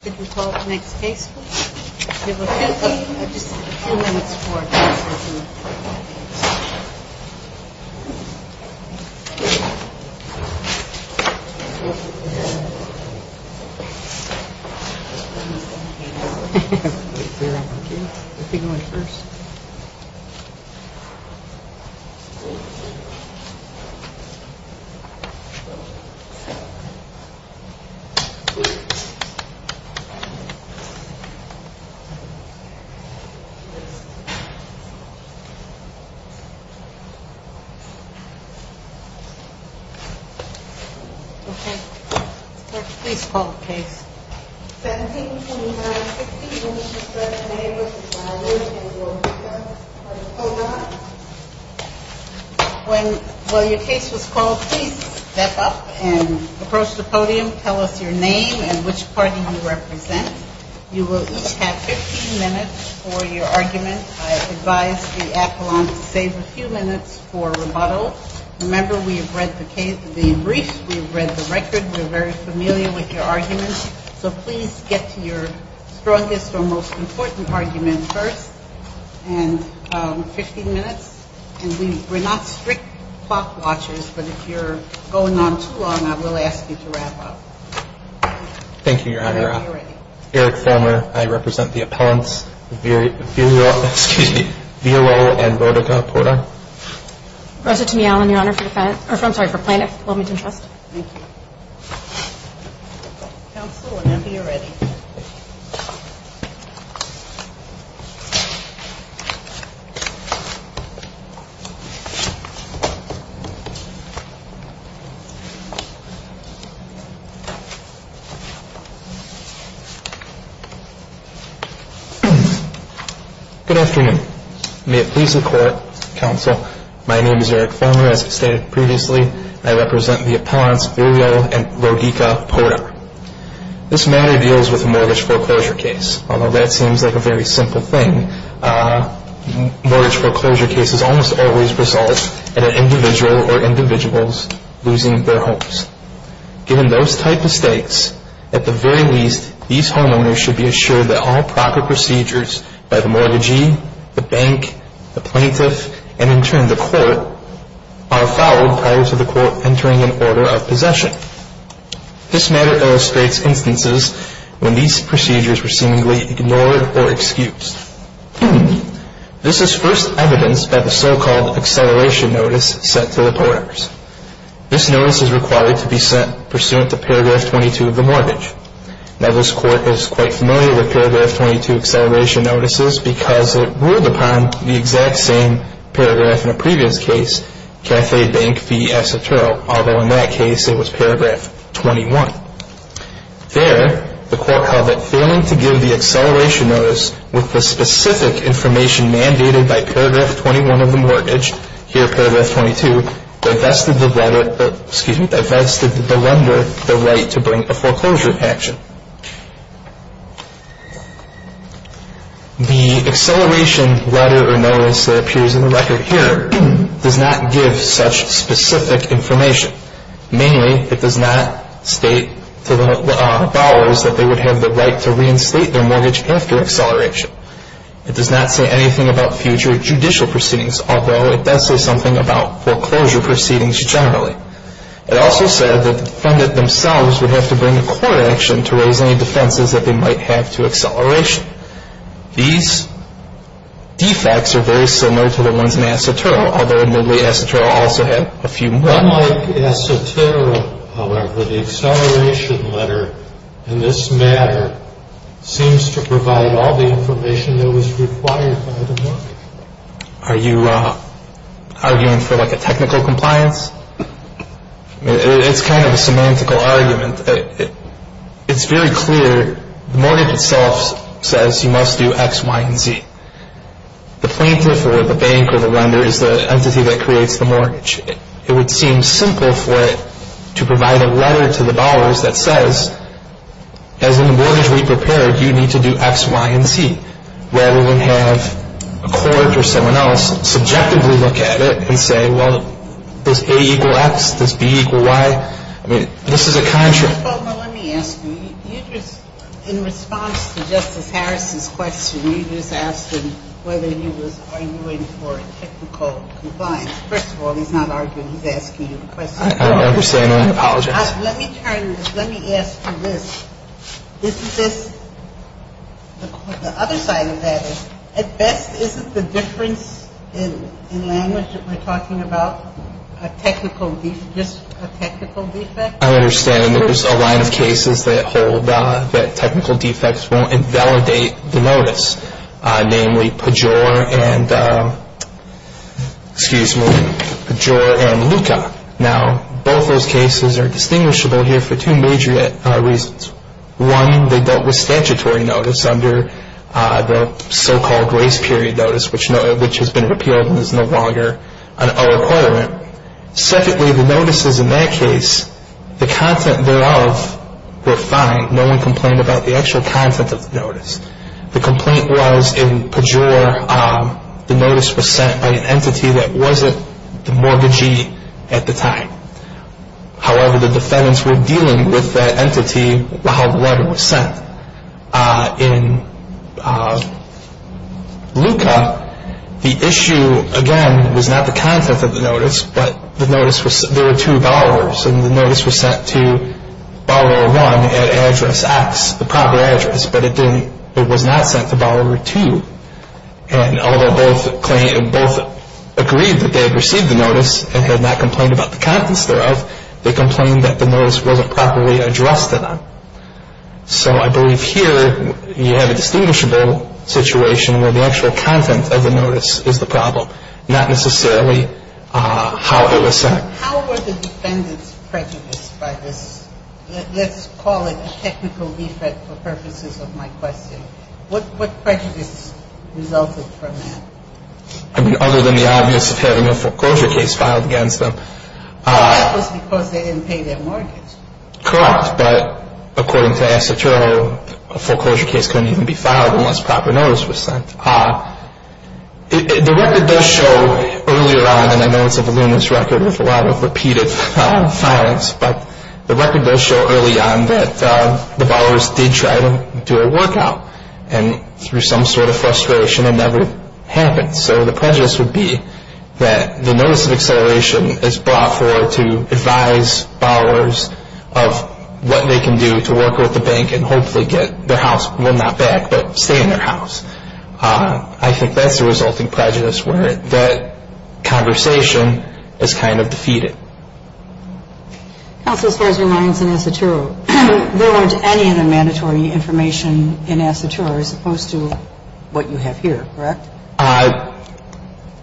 I think we'll call up the next case please. Okay, we'll stand by. I just need a few minutes for a discussion. Okay, please call the case. 17-29-60. When you said your name was violated in your request for the Podar. When your case was called, please step up and approach the podium. Tell us your name and which party you represent. You will each have 15 minutes for your argument. I advise the appellant to save a few minutes for rebuttal. Remember, we have read the brief, we have read the record, we're very familiar with your arguments. So please get to your strongest or most important argument first. And 15 minutes. And we're not strict clock watchers, but if you're going on too long, I will ask you to wrap up. Thank you, Your Honor. Eric Fulmer, I represent the appellants Villal and Vodica-Podar. Rosa Tumial, I'm sorry, for Plano-Wilmington Trust. Thank you. Counsel, whenever you're ready. Good afternoon. May it please the Court, Counsel, my name is Eric Fulmer. As stated previously, I represent the appellants Villal and Vodica-Podar. This matter deals with a mortgage foreclosure case. Although that seems like a very simple thing, mortgage foreclosure cases almost always result in an individual or individuals losing their homes. Given those type of stakes, at the very least, these homeowners should be assured that all proper procedures by the mortgagee, the bank, the plaintiff, and in turn the court, are followed prior to the court entering an order of possession. This matter illustrates instances when these procedures were seemingly ignored or excused. This is first evidenced by the so-called acceleration notice sent to the porters. This notice is required to be sent pursuant to paragraph 22 of the mortgage. Now this court is quite familiar with paragraph 22 acceleration notices because it ruled upon the exact same paragraph in a previous case, cafe, bank, fee, esoterro, although in that case it was paragraph 21. There, the court held that failing to give the acceleration notice with the specific information mandated by paragraph 21 of the mortgage, here paragraph 22, divested the lender the right to bring a foreclosure action. The acceleration letter or notice that appears in the record here does not give such specific information. Mainly, it does not state to the borrowers that they would have the right to reinstate their mortgage after acceleration. It does not say anything about future judicial proceedings, although it does say something about foreclosure proceedings generally. It also said that the defendant themselves would have to bring a court action to raise any defenses that they might have to acceleration. These defects are very similar to the ones in esoterro, although admittedly esoterro also had a few more. Unlike esoterro, however, the acceleration letter in this matter seems to provide all the information that was required by the mortgage. Are you arguing for like a technical compliance? It's kind of a semantical argument. It's very clear the mortgage itself says you must do X, Y, and Z. The plaintiff or the bank or the lender is the entity that creates the mortgage. It would seem simple for it to provide a letter to the borrowers that says, as in the mortgage we prepared, you need to do X, Y, and Z, rather than have a court or someone else subjectively look at it and say, well, does A equal X? Does B equal Y? I mean, this is a contract. Well, now, let me ask you. You just, in response to Justice Harris's question, you just asked him whether he was arguing for a technical compliance. First of all, he's not arguing. He's asking you the question. I understand. I apologize. Let me turn this. Let me ask you this. Is this, the other side of that is, at best, isn't the difference in language that we're talking about a technical, just a technical defect? I understand that there's a line of cases that hold that technical defects won't invalidate the notice, namely Pejor and Luca. Now, both those cases are distinguishable here for two major reasons. One, they dealt with statutory notice under the so-called race period notice, which has been repealed and is no longer an O equivalent. Secondly, the notices in that case, the content thereof were fine. No one complained about the actual content of the notice. The complaint was in Pejor the notice was sent by an entity that wasn't the mortgagee at the time. However, the defendants were dealing with that entity while the letter was sent. In Luca, the issue, again, was not the content of the notice, but the notice was, there were two borrowers and the notice was sent to borrower one at address X, the proper address, but it was not sent to borrower two. And although both agreed that they had received the notice and had not complained about the contents thereof, they complained that the notice wasn't properly addressed to them. So I believe here you have a distinguishable situation where the actual content of the notice is the problem, not necessarily how it was sent. How were the defendants prejudiced by this? Let's call it a technical defect for purposes of my question. What prejudice resulted from that? I mean, other than the obvious of having a foreclosure case filed against them. Well, that was because they didn't pay their mortgage. Correct. But according to Assetto, a foreclosure case couldn't even be filed unless proper notice was sent. The record does show earlier on, and I know it's a voluminous record with a lot of repeated files, but the record does show early on that the borrowers did try to do a work out, and through some sort of frustration it never happened. So the prejudice would be that the notice of acceleration is brought forward to advise borrowers of what they can do to work with the bank and hopefully get their house, well, not back, but stay in their house. I think that's a resulting prejudice where that conversation is kind of defeated. Counsel, as far as your lines in Assetto, there weren't any other mandatory information in Assetto as opposed to what you have here, correct?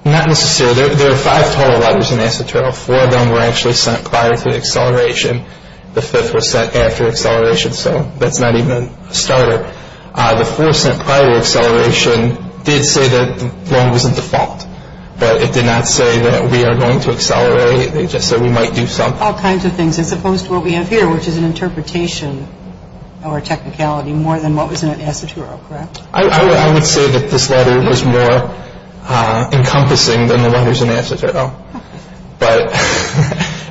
Not necessarily. There are five total letters in Assetto. Four of them were actually sent prior to acceleration. The fifth was sent after acceleration. So that's not even a starter. The fourth sent prior to acceleration did say that the loan was in default, but it did not say that we are going to accelerate. It just said we might do something. All kinds of things, as opposed to what we have here, which is an interpretation or a technicality more than what was in Assetto, correct? I would say that this letter was more encompassing than the letters in Assetto.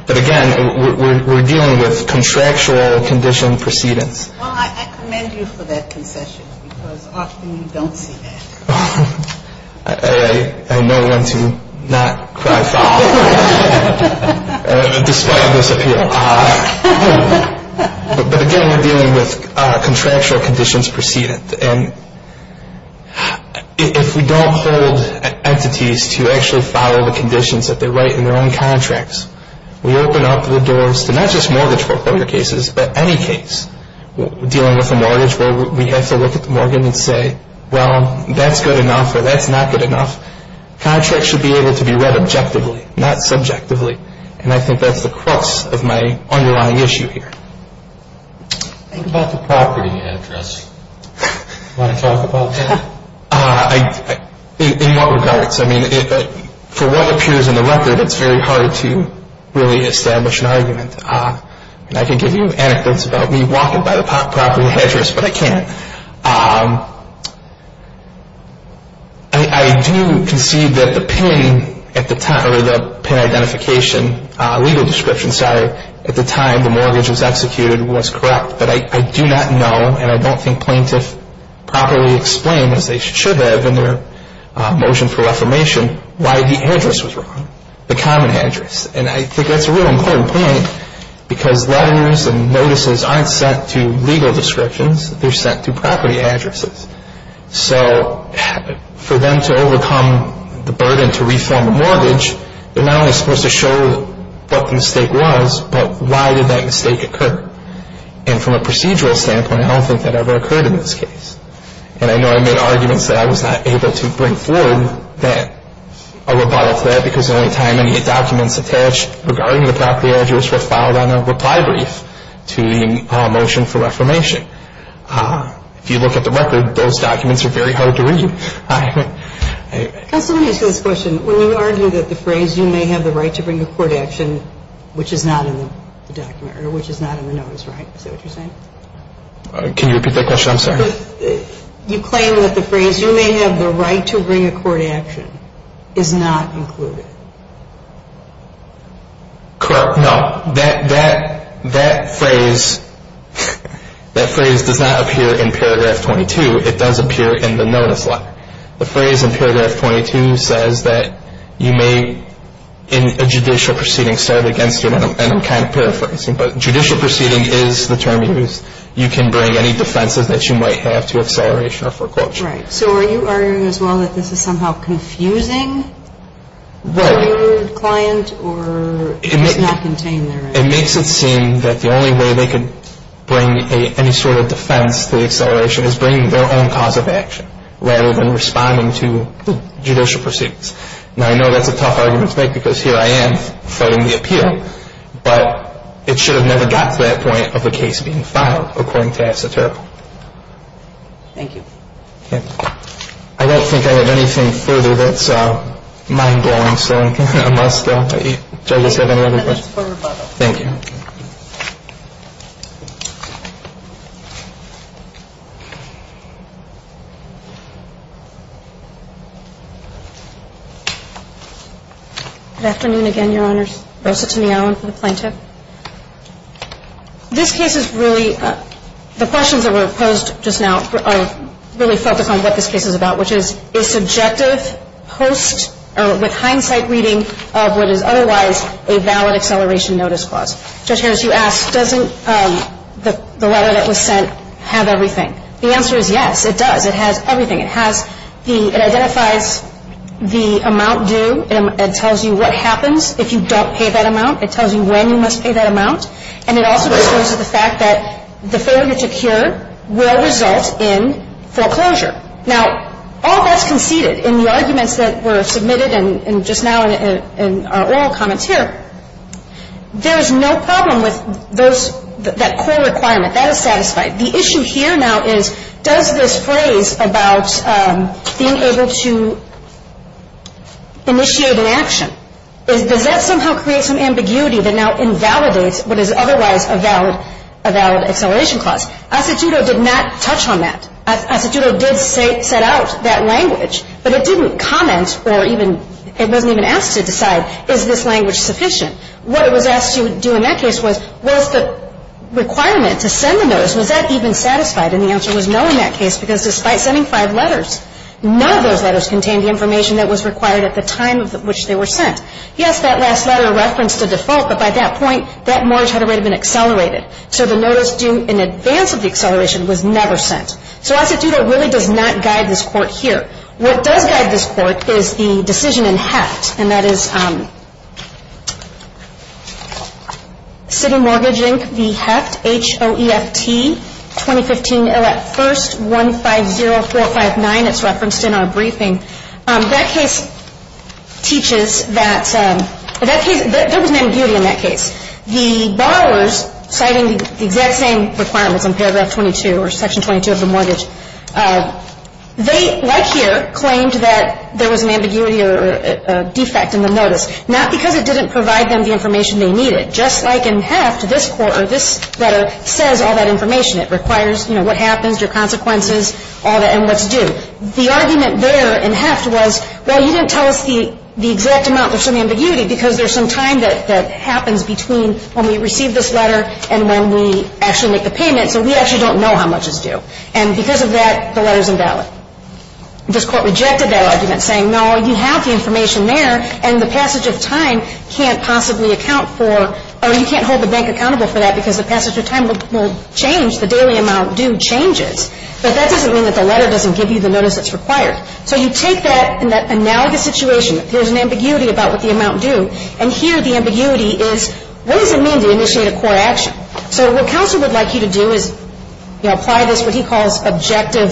But again, we're dealing with contractual condition precedence. Well, I commend you for that concession because often you don't see that. I know when to not cry foul, despite this appeal. But again, we're dealing with contractual conditions precedence. And if we don't hold entities to actually follow the conditions that they write in their own contracts, we open up the doors to not just mortgage foreclosure cases, but any case dealing with a mortgage where we have to look at the mortgage and say, well, that's good enough or that's not good enough. Contracts should be able to be read objectively, not subjectively. And I think that's the crux of my underlying issue here. Think about the property address. Want to talk about that? In what regards? For what appears in the record, it's very hard to really establish an argument. And I can give you anecdotes about me walking by the property address, but I can't. I do concede that the PIN at the time, or the PIN identification, legal description, sorry, at the time the mortgage was executed was correct, but I do not know and I don't think plaintiffs properly explain, as they should have in their motion for reformation, why the address was wrong, the common address. And I think that's a real important point because letters and notices aren't sent to legal descriptions. They're sent to property addresses. So for them to overcome the burden to reform a mortgage, they're not only supposed to show what the mistake was, but why did that mistake occur. And from a procedural standpoint, I don't think that ever occurred in this case. And I know I made arguments that I was not able to bring forward a rebuttal to that because the only time any documents attached regarding the property address were filed on a reply brief to the motion for reformation. If you look at the record, those documents are very hard to read. Counsel, let me ask you this question. When you argue that the phrase, you may have the right to bring a court action, which is not in the document or which is not in the notice, right? Is that what you're saying? Can you repeat that question? I'm sorry. You claim that the phrase, you may have the right to bring a court action, is not included. Correct. No. That phrase does not appear in paragraph 22. It does appear in the notice. The phrase in paragraph 22 says that you may, in a judicial proceeding, start against you, and I'm kind of paraphrasing, but judicial proceeding is the term you use. You can bring any defenses that you might have to acceleration or foreclosure. Right. So are you arguing as well that this is somehow confusing for your client? Or it does not contain their right? It makes it seem that the only way they could bring any sort of defense to the acceleration is bringing their own cause of action rather than responding to judicial proceedings. Now, I know that's a tough argument to make because here I am fighting the appeal, but it should have never gotten to that point of a case being filed according to esoteric. Thank you. I don't think I have anything further that's mind-blowing, so I'm going to muster. Do I just have any other questions? That's for rebuttal. Thank you. Good afternoon again, Your Honors. Rosa Tonealan for the plaintiff. This case is really the questions that were posed just now are really focused on what this case is about, which is a subjective post or with hindsight reading of what is otherwise a valid acceleration notice clause. Judge Harris, you asked, doesn't the letter that was sent have everything? The answer is yes, it does. It has everything. It has the, it identifies the amount due. It tells you what happens if you don't pay that amount. It tells you when you must pay that amount. And it also discloses the fact that the failure to cure will result in foreclosure. Now, all that's conceded in the arguments that were submitted and just now in our oral comments here, there's no problem with those, that core requirement. That is satisfied. The issue here now is does this phrase about being able to initiate an action, does that somehow create some ambiguity that now invalidates what is otherwise a valid acceleration clause? Asituto did not touch on that. Asituto did set out that language, but it didn't comment or even, it wasn't even asked to decide, is this language sufficient? What it was asked to do in that case was, was the requirement to send the notice, was that even satisfied? And the answer was no in that case because despite sending five letters, none of those letters contained the information that was required at the time of which they were sent. Yes, that last letter referenced a default, but by that point, that mortgage had already been accelerated. So the notice due in advance of the acceleration was never sent. So Asituto really does not guide this court here. What does guide this court is the decision in HEFT, and that is City Mortgage Inc., the HEFT, H-O-E-F-T, 2015, 1st, 150459. It's referenced in our briefing. That case teaches that, there was an ambiguity in that case. The borrowers, citing the exact same requirements in paragraph 22 or section 22 of the mortgage, they, like here, claimed that there was an ambiguity or defect in the notice, not because it didn't provide them the information they needed. Just like in HEFT, this letter says all that information. It requires, you know, what happens, your consequences, all that, and what's due. The argument there in HEFT was, well, you didn't tell us the exact amount. Well, there's some ambiguity because there's some time that happens between when we receive this letter and when we actually make the payment, so we actually don't know how much is due. And because of that, the letter's invalid. This court rejected that argument, saying, no, you have the information there, and the passage of time can't possibly account for, or you can't hold the bank accountable for that because the passage of time will change, the daily amount due changes. But that doesn't mean that the letter doesn't give you the notice that's required. So you take that in that analogous situation, there's an ambiguity about what the amount due, and here the ambiguity is, what does it mean to initiate a court action? So what counsel would like you to do is, you know, apply this, what he calls objective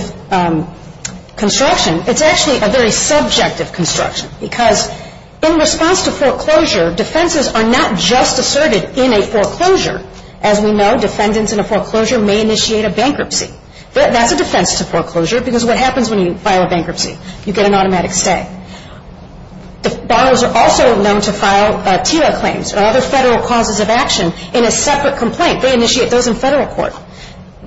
construction. It's actually a very subjective construction because in response to foreclosure, defenses are not just asserted in a foreclosure. As we know, defendants in a foreclosure may initiate a bankruptcy. That's a defense to foreclosure because what happens when you file a bankruptcy? You get an automatic stay. Borrowers are also known to file TILA claims or other federal causes of action in a separate complaint. They initiate those in federal court.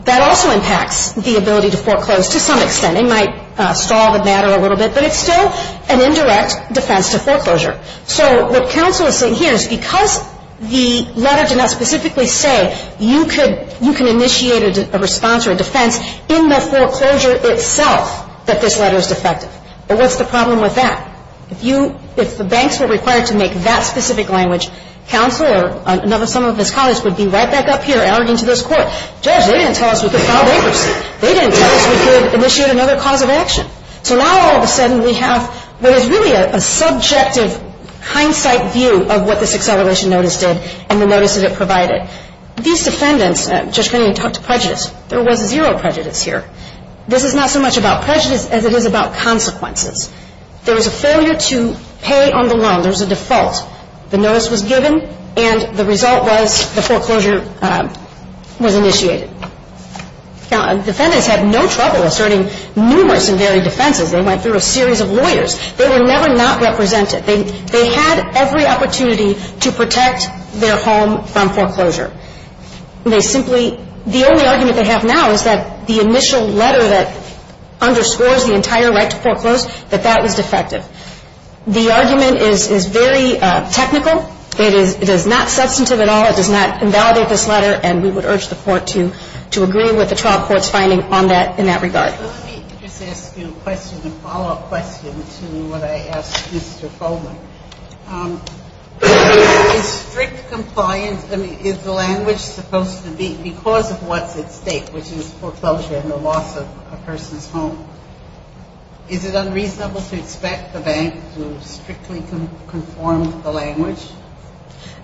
That also impacts the ability to foreclose to some extent. It might stall the matter a little bit, but it's still an indirect defense to foreclosure. So what counsel is saying here is because the letter did not specifically say, you can initiate a response or a defense in the foreclosure itself that this letter is defective. Well, what's the problem with that? If the banks were required to make that specific language, counsel or some of his colleagues would be right back up here arguing to this court, Judge, they didn't tell us we could file bankruptcy. They didn't tell us we could initiate another cause of action. So now all of a sudden we have what is really a subjective hindsight view of what this acceleration notice did and the notice that it provided. These defendants, Judge Kennedy talked to prejudice. There was zero prejudice here. This is not so much about prejudice as it is about consequences. There was a failure to pay on the loan. There was a default. The notice was given, and the result was the foreclosure was initiated. Now, defendants had no trouble asserting numerous and varied defenses. They went through a series of lawyers. They were never not represented. They had every opportunity to protect their home from foreclosure. They simply the only argument they have now is that the initial letter that underscores the entire right to foreclose, that that was defective. The argument is very technical. It is not substantive at all. It does not invalidate this letter, and we would urge the court to agree with the trial court's finding on that in that regard. Let me just ask you a question, a follow-up question to what I asked Mr. Foley. Is strict compliance, I mean, is the language supposed to be because of what's at stake, which is foreclosure and the loss of a person's home, is it unreasonable to expect the bank to strictly conform to the language?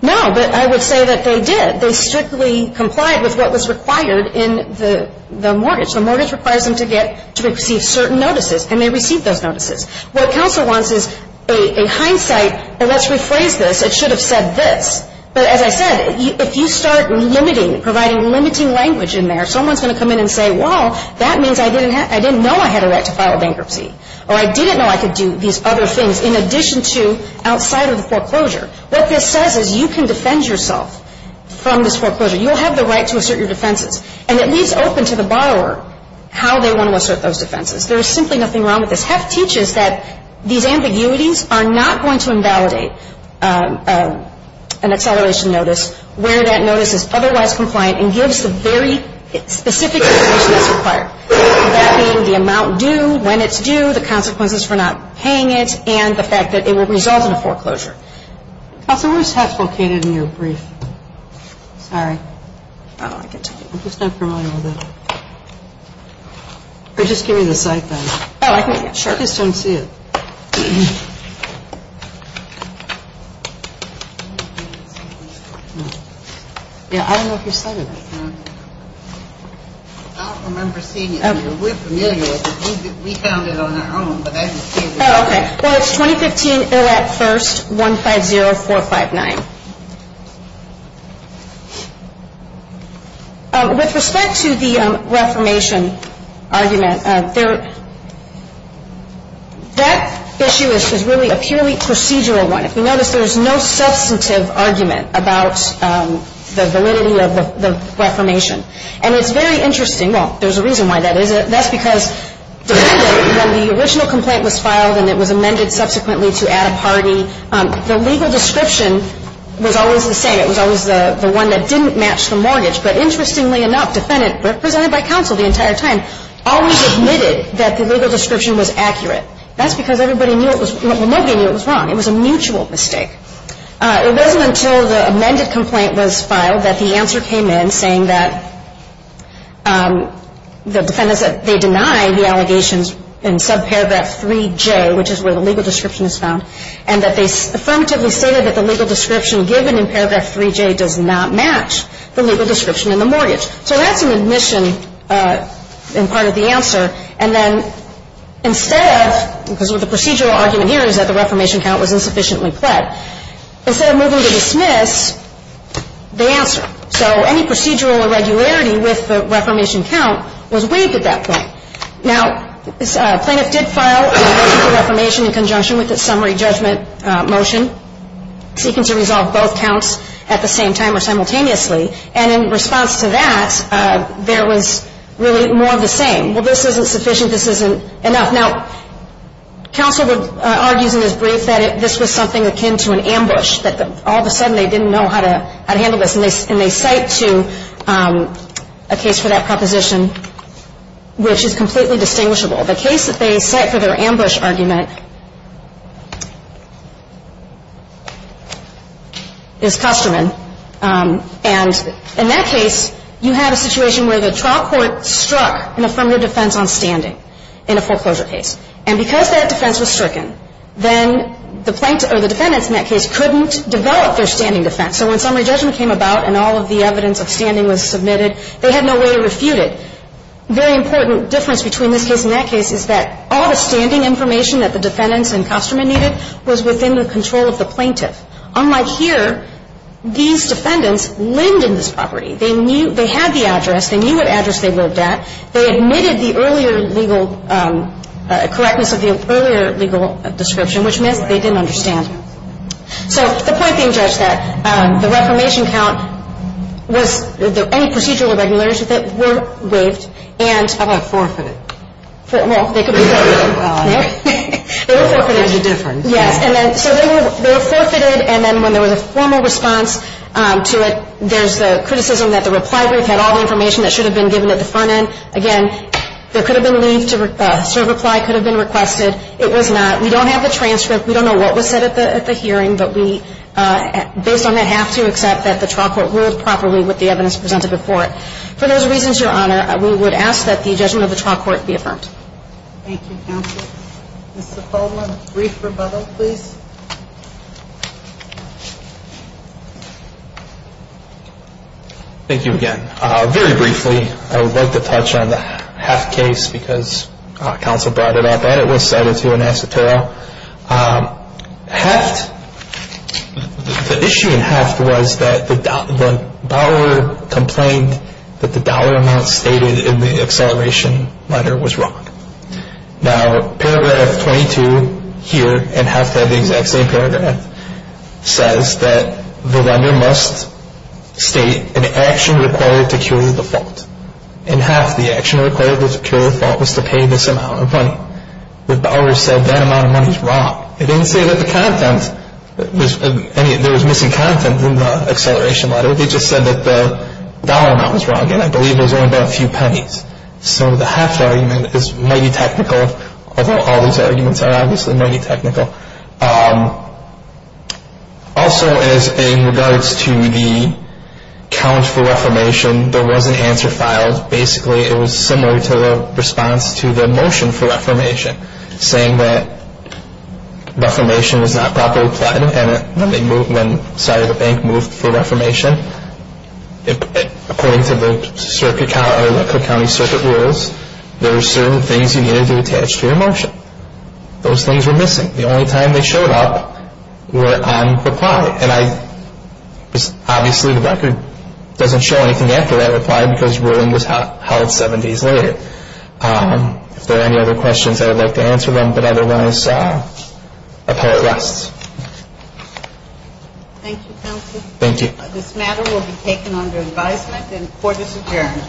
No, but I would say that they did. They strictly complied with what was required in the mortgage. The mortgage requires them to receive certain notices, and they received those notices. What counsel wants is a hindsight, and let's rephrase this, it should have said this. But as I said, if you start limiting, providing limiting language in there, someone's going to come in and say, well, that means I didn't know I had a right to file a bankruptcy, or I didn't know I could do these other things in addition to outside of the foreclosure. What this says is you can defend yourself from this foreclosure. You'll have the right to assert your defenses. And it leaves open to the borrower how they want to assert those defenses. There is simply nothing wrong with this. Heff teaches that these ambiguities are not going to invalidate an acceleration notice where that notice is otherwise compliant and gives the very specific information that's required, that being the amount due, when it's due, the consequences for not paying it, and the fact that it will result in a foreclosure. Counsel, where's Heff located in your brief? Sorry. Oh, I can tell you. I'm just not familiar with it. Just give me the site then. I just don't see it. Yeah, I don't know if you cited it. I don't remember seeing it. We're familiar with it. We found it on our own, but I didn't see it. Oh, okay. Well, it's 2015 ILAC First 150459. With respect to the reformation argument, that issue is really a purely procedural one. If you notice, there's no substantive argument about the validity of the reformation. And it's very interesting. Well, there's a reason why that is. That's because when the original complaint was filed and it was amended subsequently to add a party, the legal description was always the same. It was always the one that didn't match the mortgage. But interestingly enough, the defendant, represented by counsel the entire time, always admitted that the legal description was accurate. That's because everybody knew it was wrong. Well, nobody knew it was wrong. It was a mutual mistake. It wasn't until the amended complaint was filed that the answer came in saying that the defendants that they deny the allegations in subparagraph 3J, which is where the legal description is found, and that they affirmatively stated that the legal description given in paragraph 3J does not match the legal description in the mortgage. So that's an admission and part of the answer. And then instead of, because the procedural argument here is that the reformation count was insufficiently pled, instead of moving to dismiss, they answer. So any procedural irregularity with the reformation count was waived at that point. Now, plaintiff did file a motion for reformation in conjunction with the summary judgment motion, seeking to resolve both counts at the same time or simultaneously. And in response to that, there was really more of the same. Well, this isn't sufficient. This isn't enough. Now, counsel argues in his brief that this was something akin to an ambush, that all of a sudden they didn't know how to handle this. And they cite to a case for that proposition, which is completely distinguishable. The case that they cite for their ambush argument is Kosterman. And in that case, you have a situation where the trial court struck an affirmative defense on standing in a foreclosure case. And because that defense was stricken, then the plaintiff or the defendants in that case couldn't develop their standing defense. So when summary judgment came about and all of the evidence of standing was submitted, they had no way to refute it. Very important difference between this case and that case is that all the standing information that the defendants and Kosterman needed was within the control of the plaintiff. Unlike here, these defendants lived in this property. They knew they had the address. They knew what address they lived at. They admitted the earlier legal correctness of the earlier legal description, which meant they didn't understand. So the point being judged that the reformation count was any procedural or regularities with it were waived. How about forfeited? Well, they could be forfeited. They were forfeited. There's a difference. Yes. So they were forfeited, and then when there was a formal response to it, there's the criticism that the reply brief had all the information that should have been given at the front end. Again, there could have been leave to serve reply, could have been requested. It was not. We don't have the transcript. We don't know what was said at the hearing, but we, based on that, have to accept that the trial court ruled properly with the evidence presented before it. For those reasons, Your Honor, we would ask that the judgment of the trial court be affirmed. Thank you, counsel. Mr. Foleman, brief rebuttal, please. Thank you again. Very briefly, I would like to touch on the Heft case because counsel brought it up, and it was cited to an esoteric. Heft, the issue in Heft was that the borrower complained that the dollar amount stated in the acceleration letter was wrong. Now, paragraph 22 here in Heft had the exact same paragraph. It says that the lender must state an action required to cure the fault, and half the action required to cure the fault was to pay this amount of money. The borrower said that amount of money is wrong. It didn't say that the content, there was missing content in the acceleration letter. It just said that the dollar amount was wrong, and I believe it was only about a few pennies. So the Heft argument is mighty technical, although all these arguments are obviously mighty technical. Also, as in regards to the count for reformation, there was an answer filed. Basically, it was similar to the response to the motion for reformation, saying that reformation was not properly planned when the bank moved for reformation. According to the Cook County Circuit rules, there were certain things you needed to attach to your motion. Those things were missing. The only time they showed up were on reply, and obviously the record doesn't show anything after that reply because ruling was held seven days later. If there are any other questions, I would like to answer them, but otherwise, appellate rests. Thank you, counsel. Thank you. This matter will be taken under advisement and court is adjourned.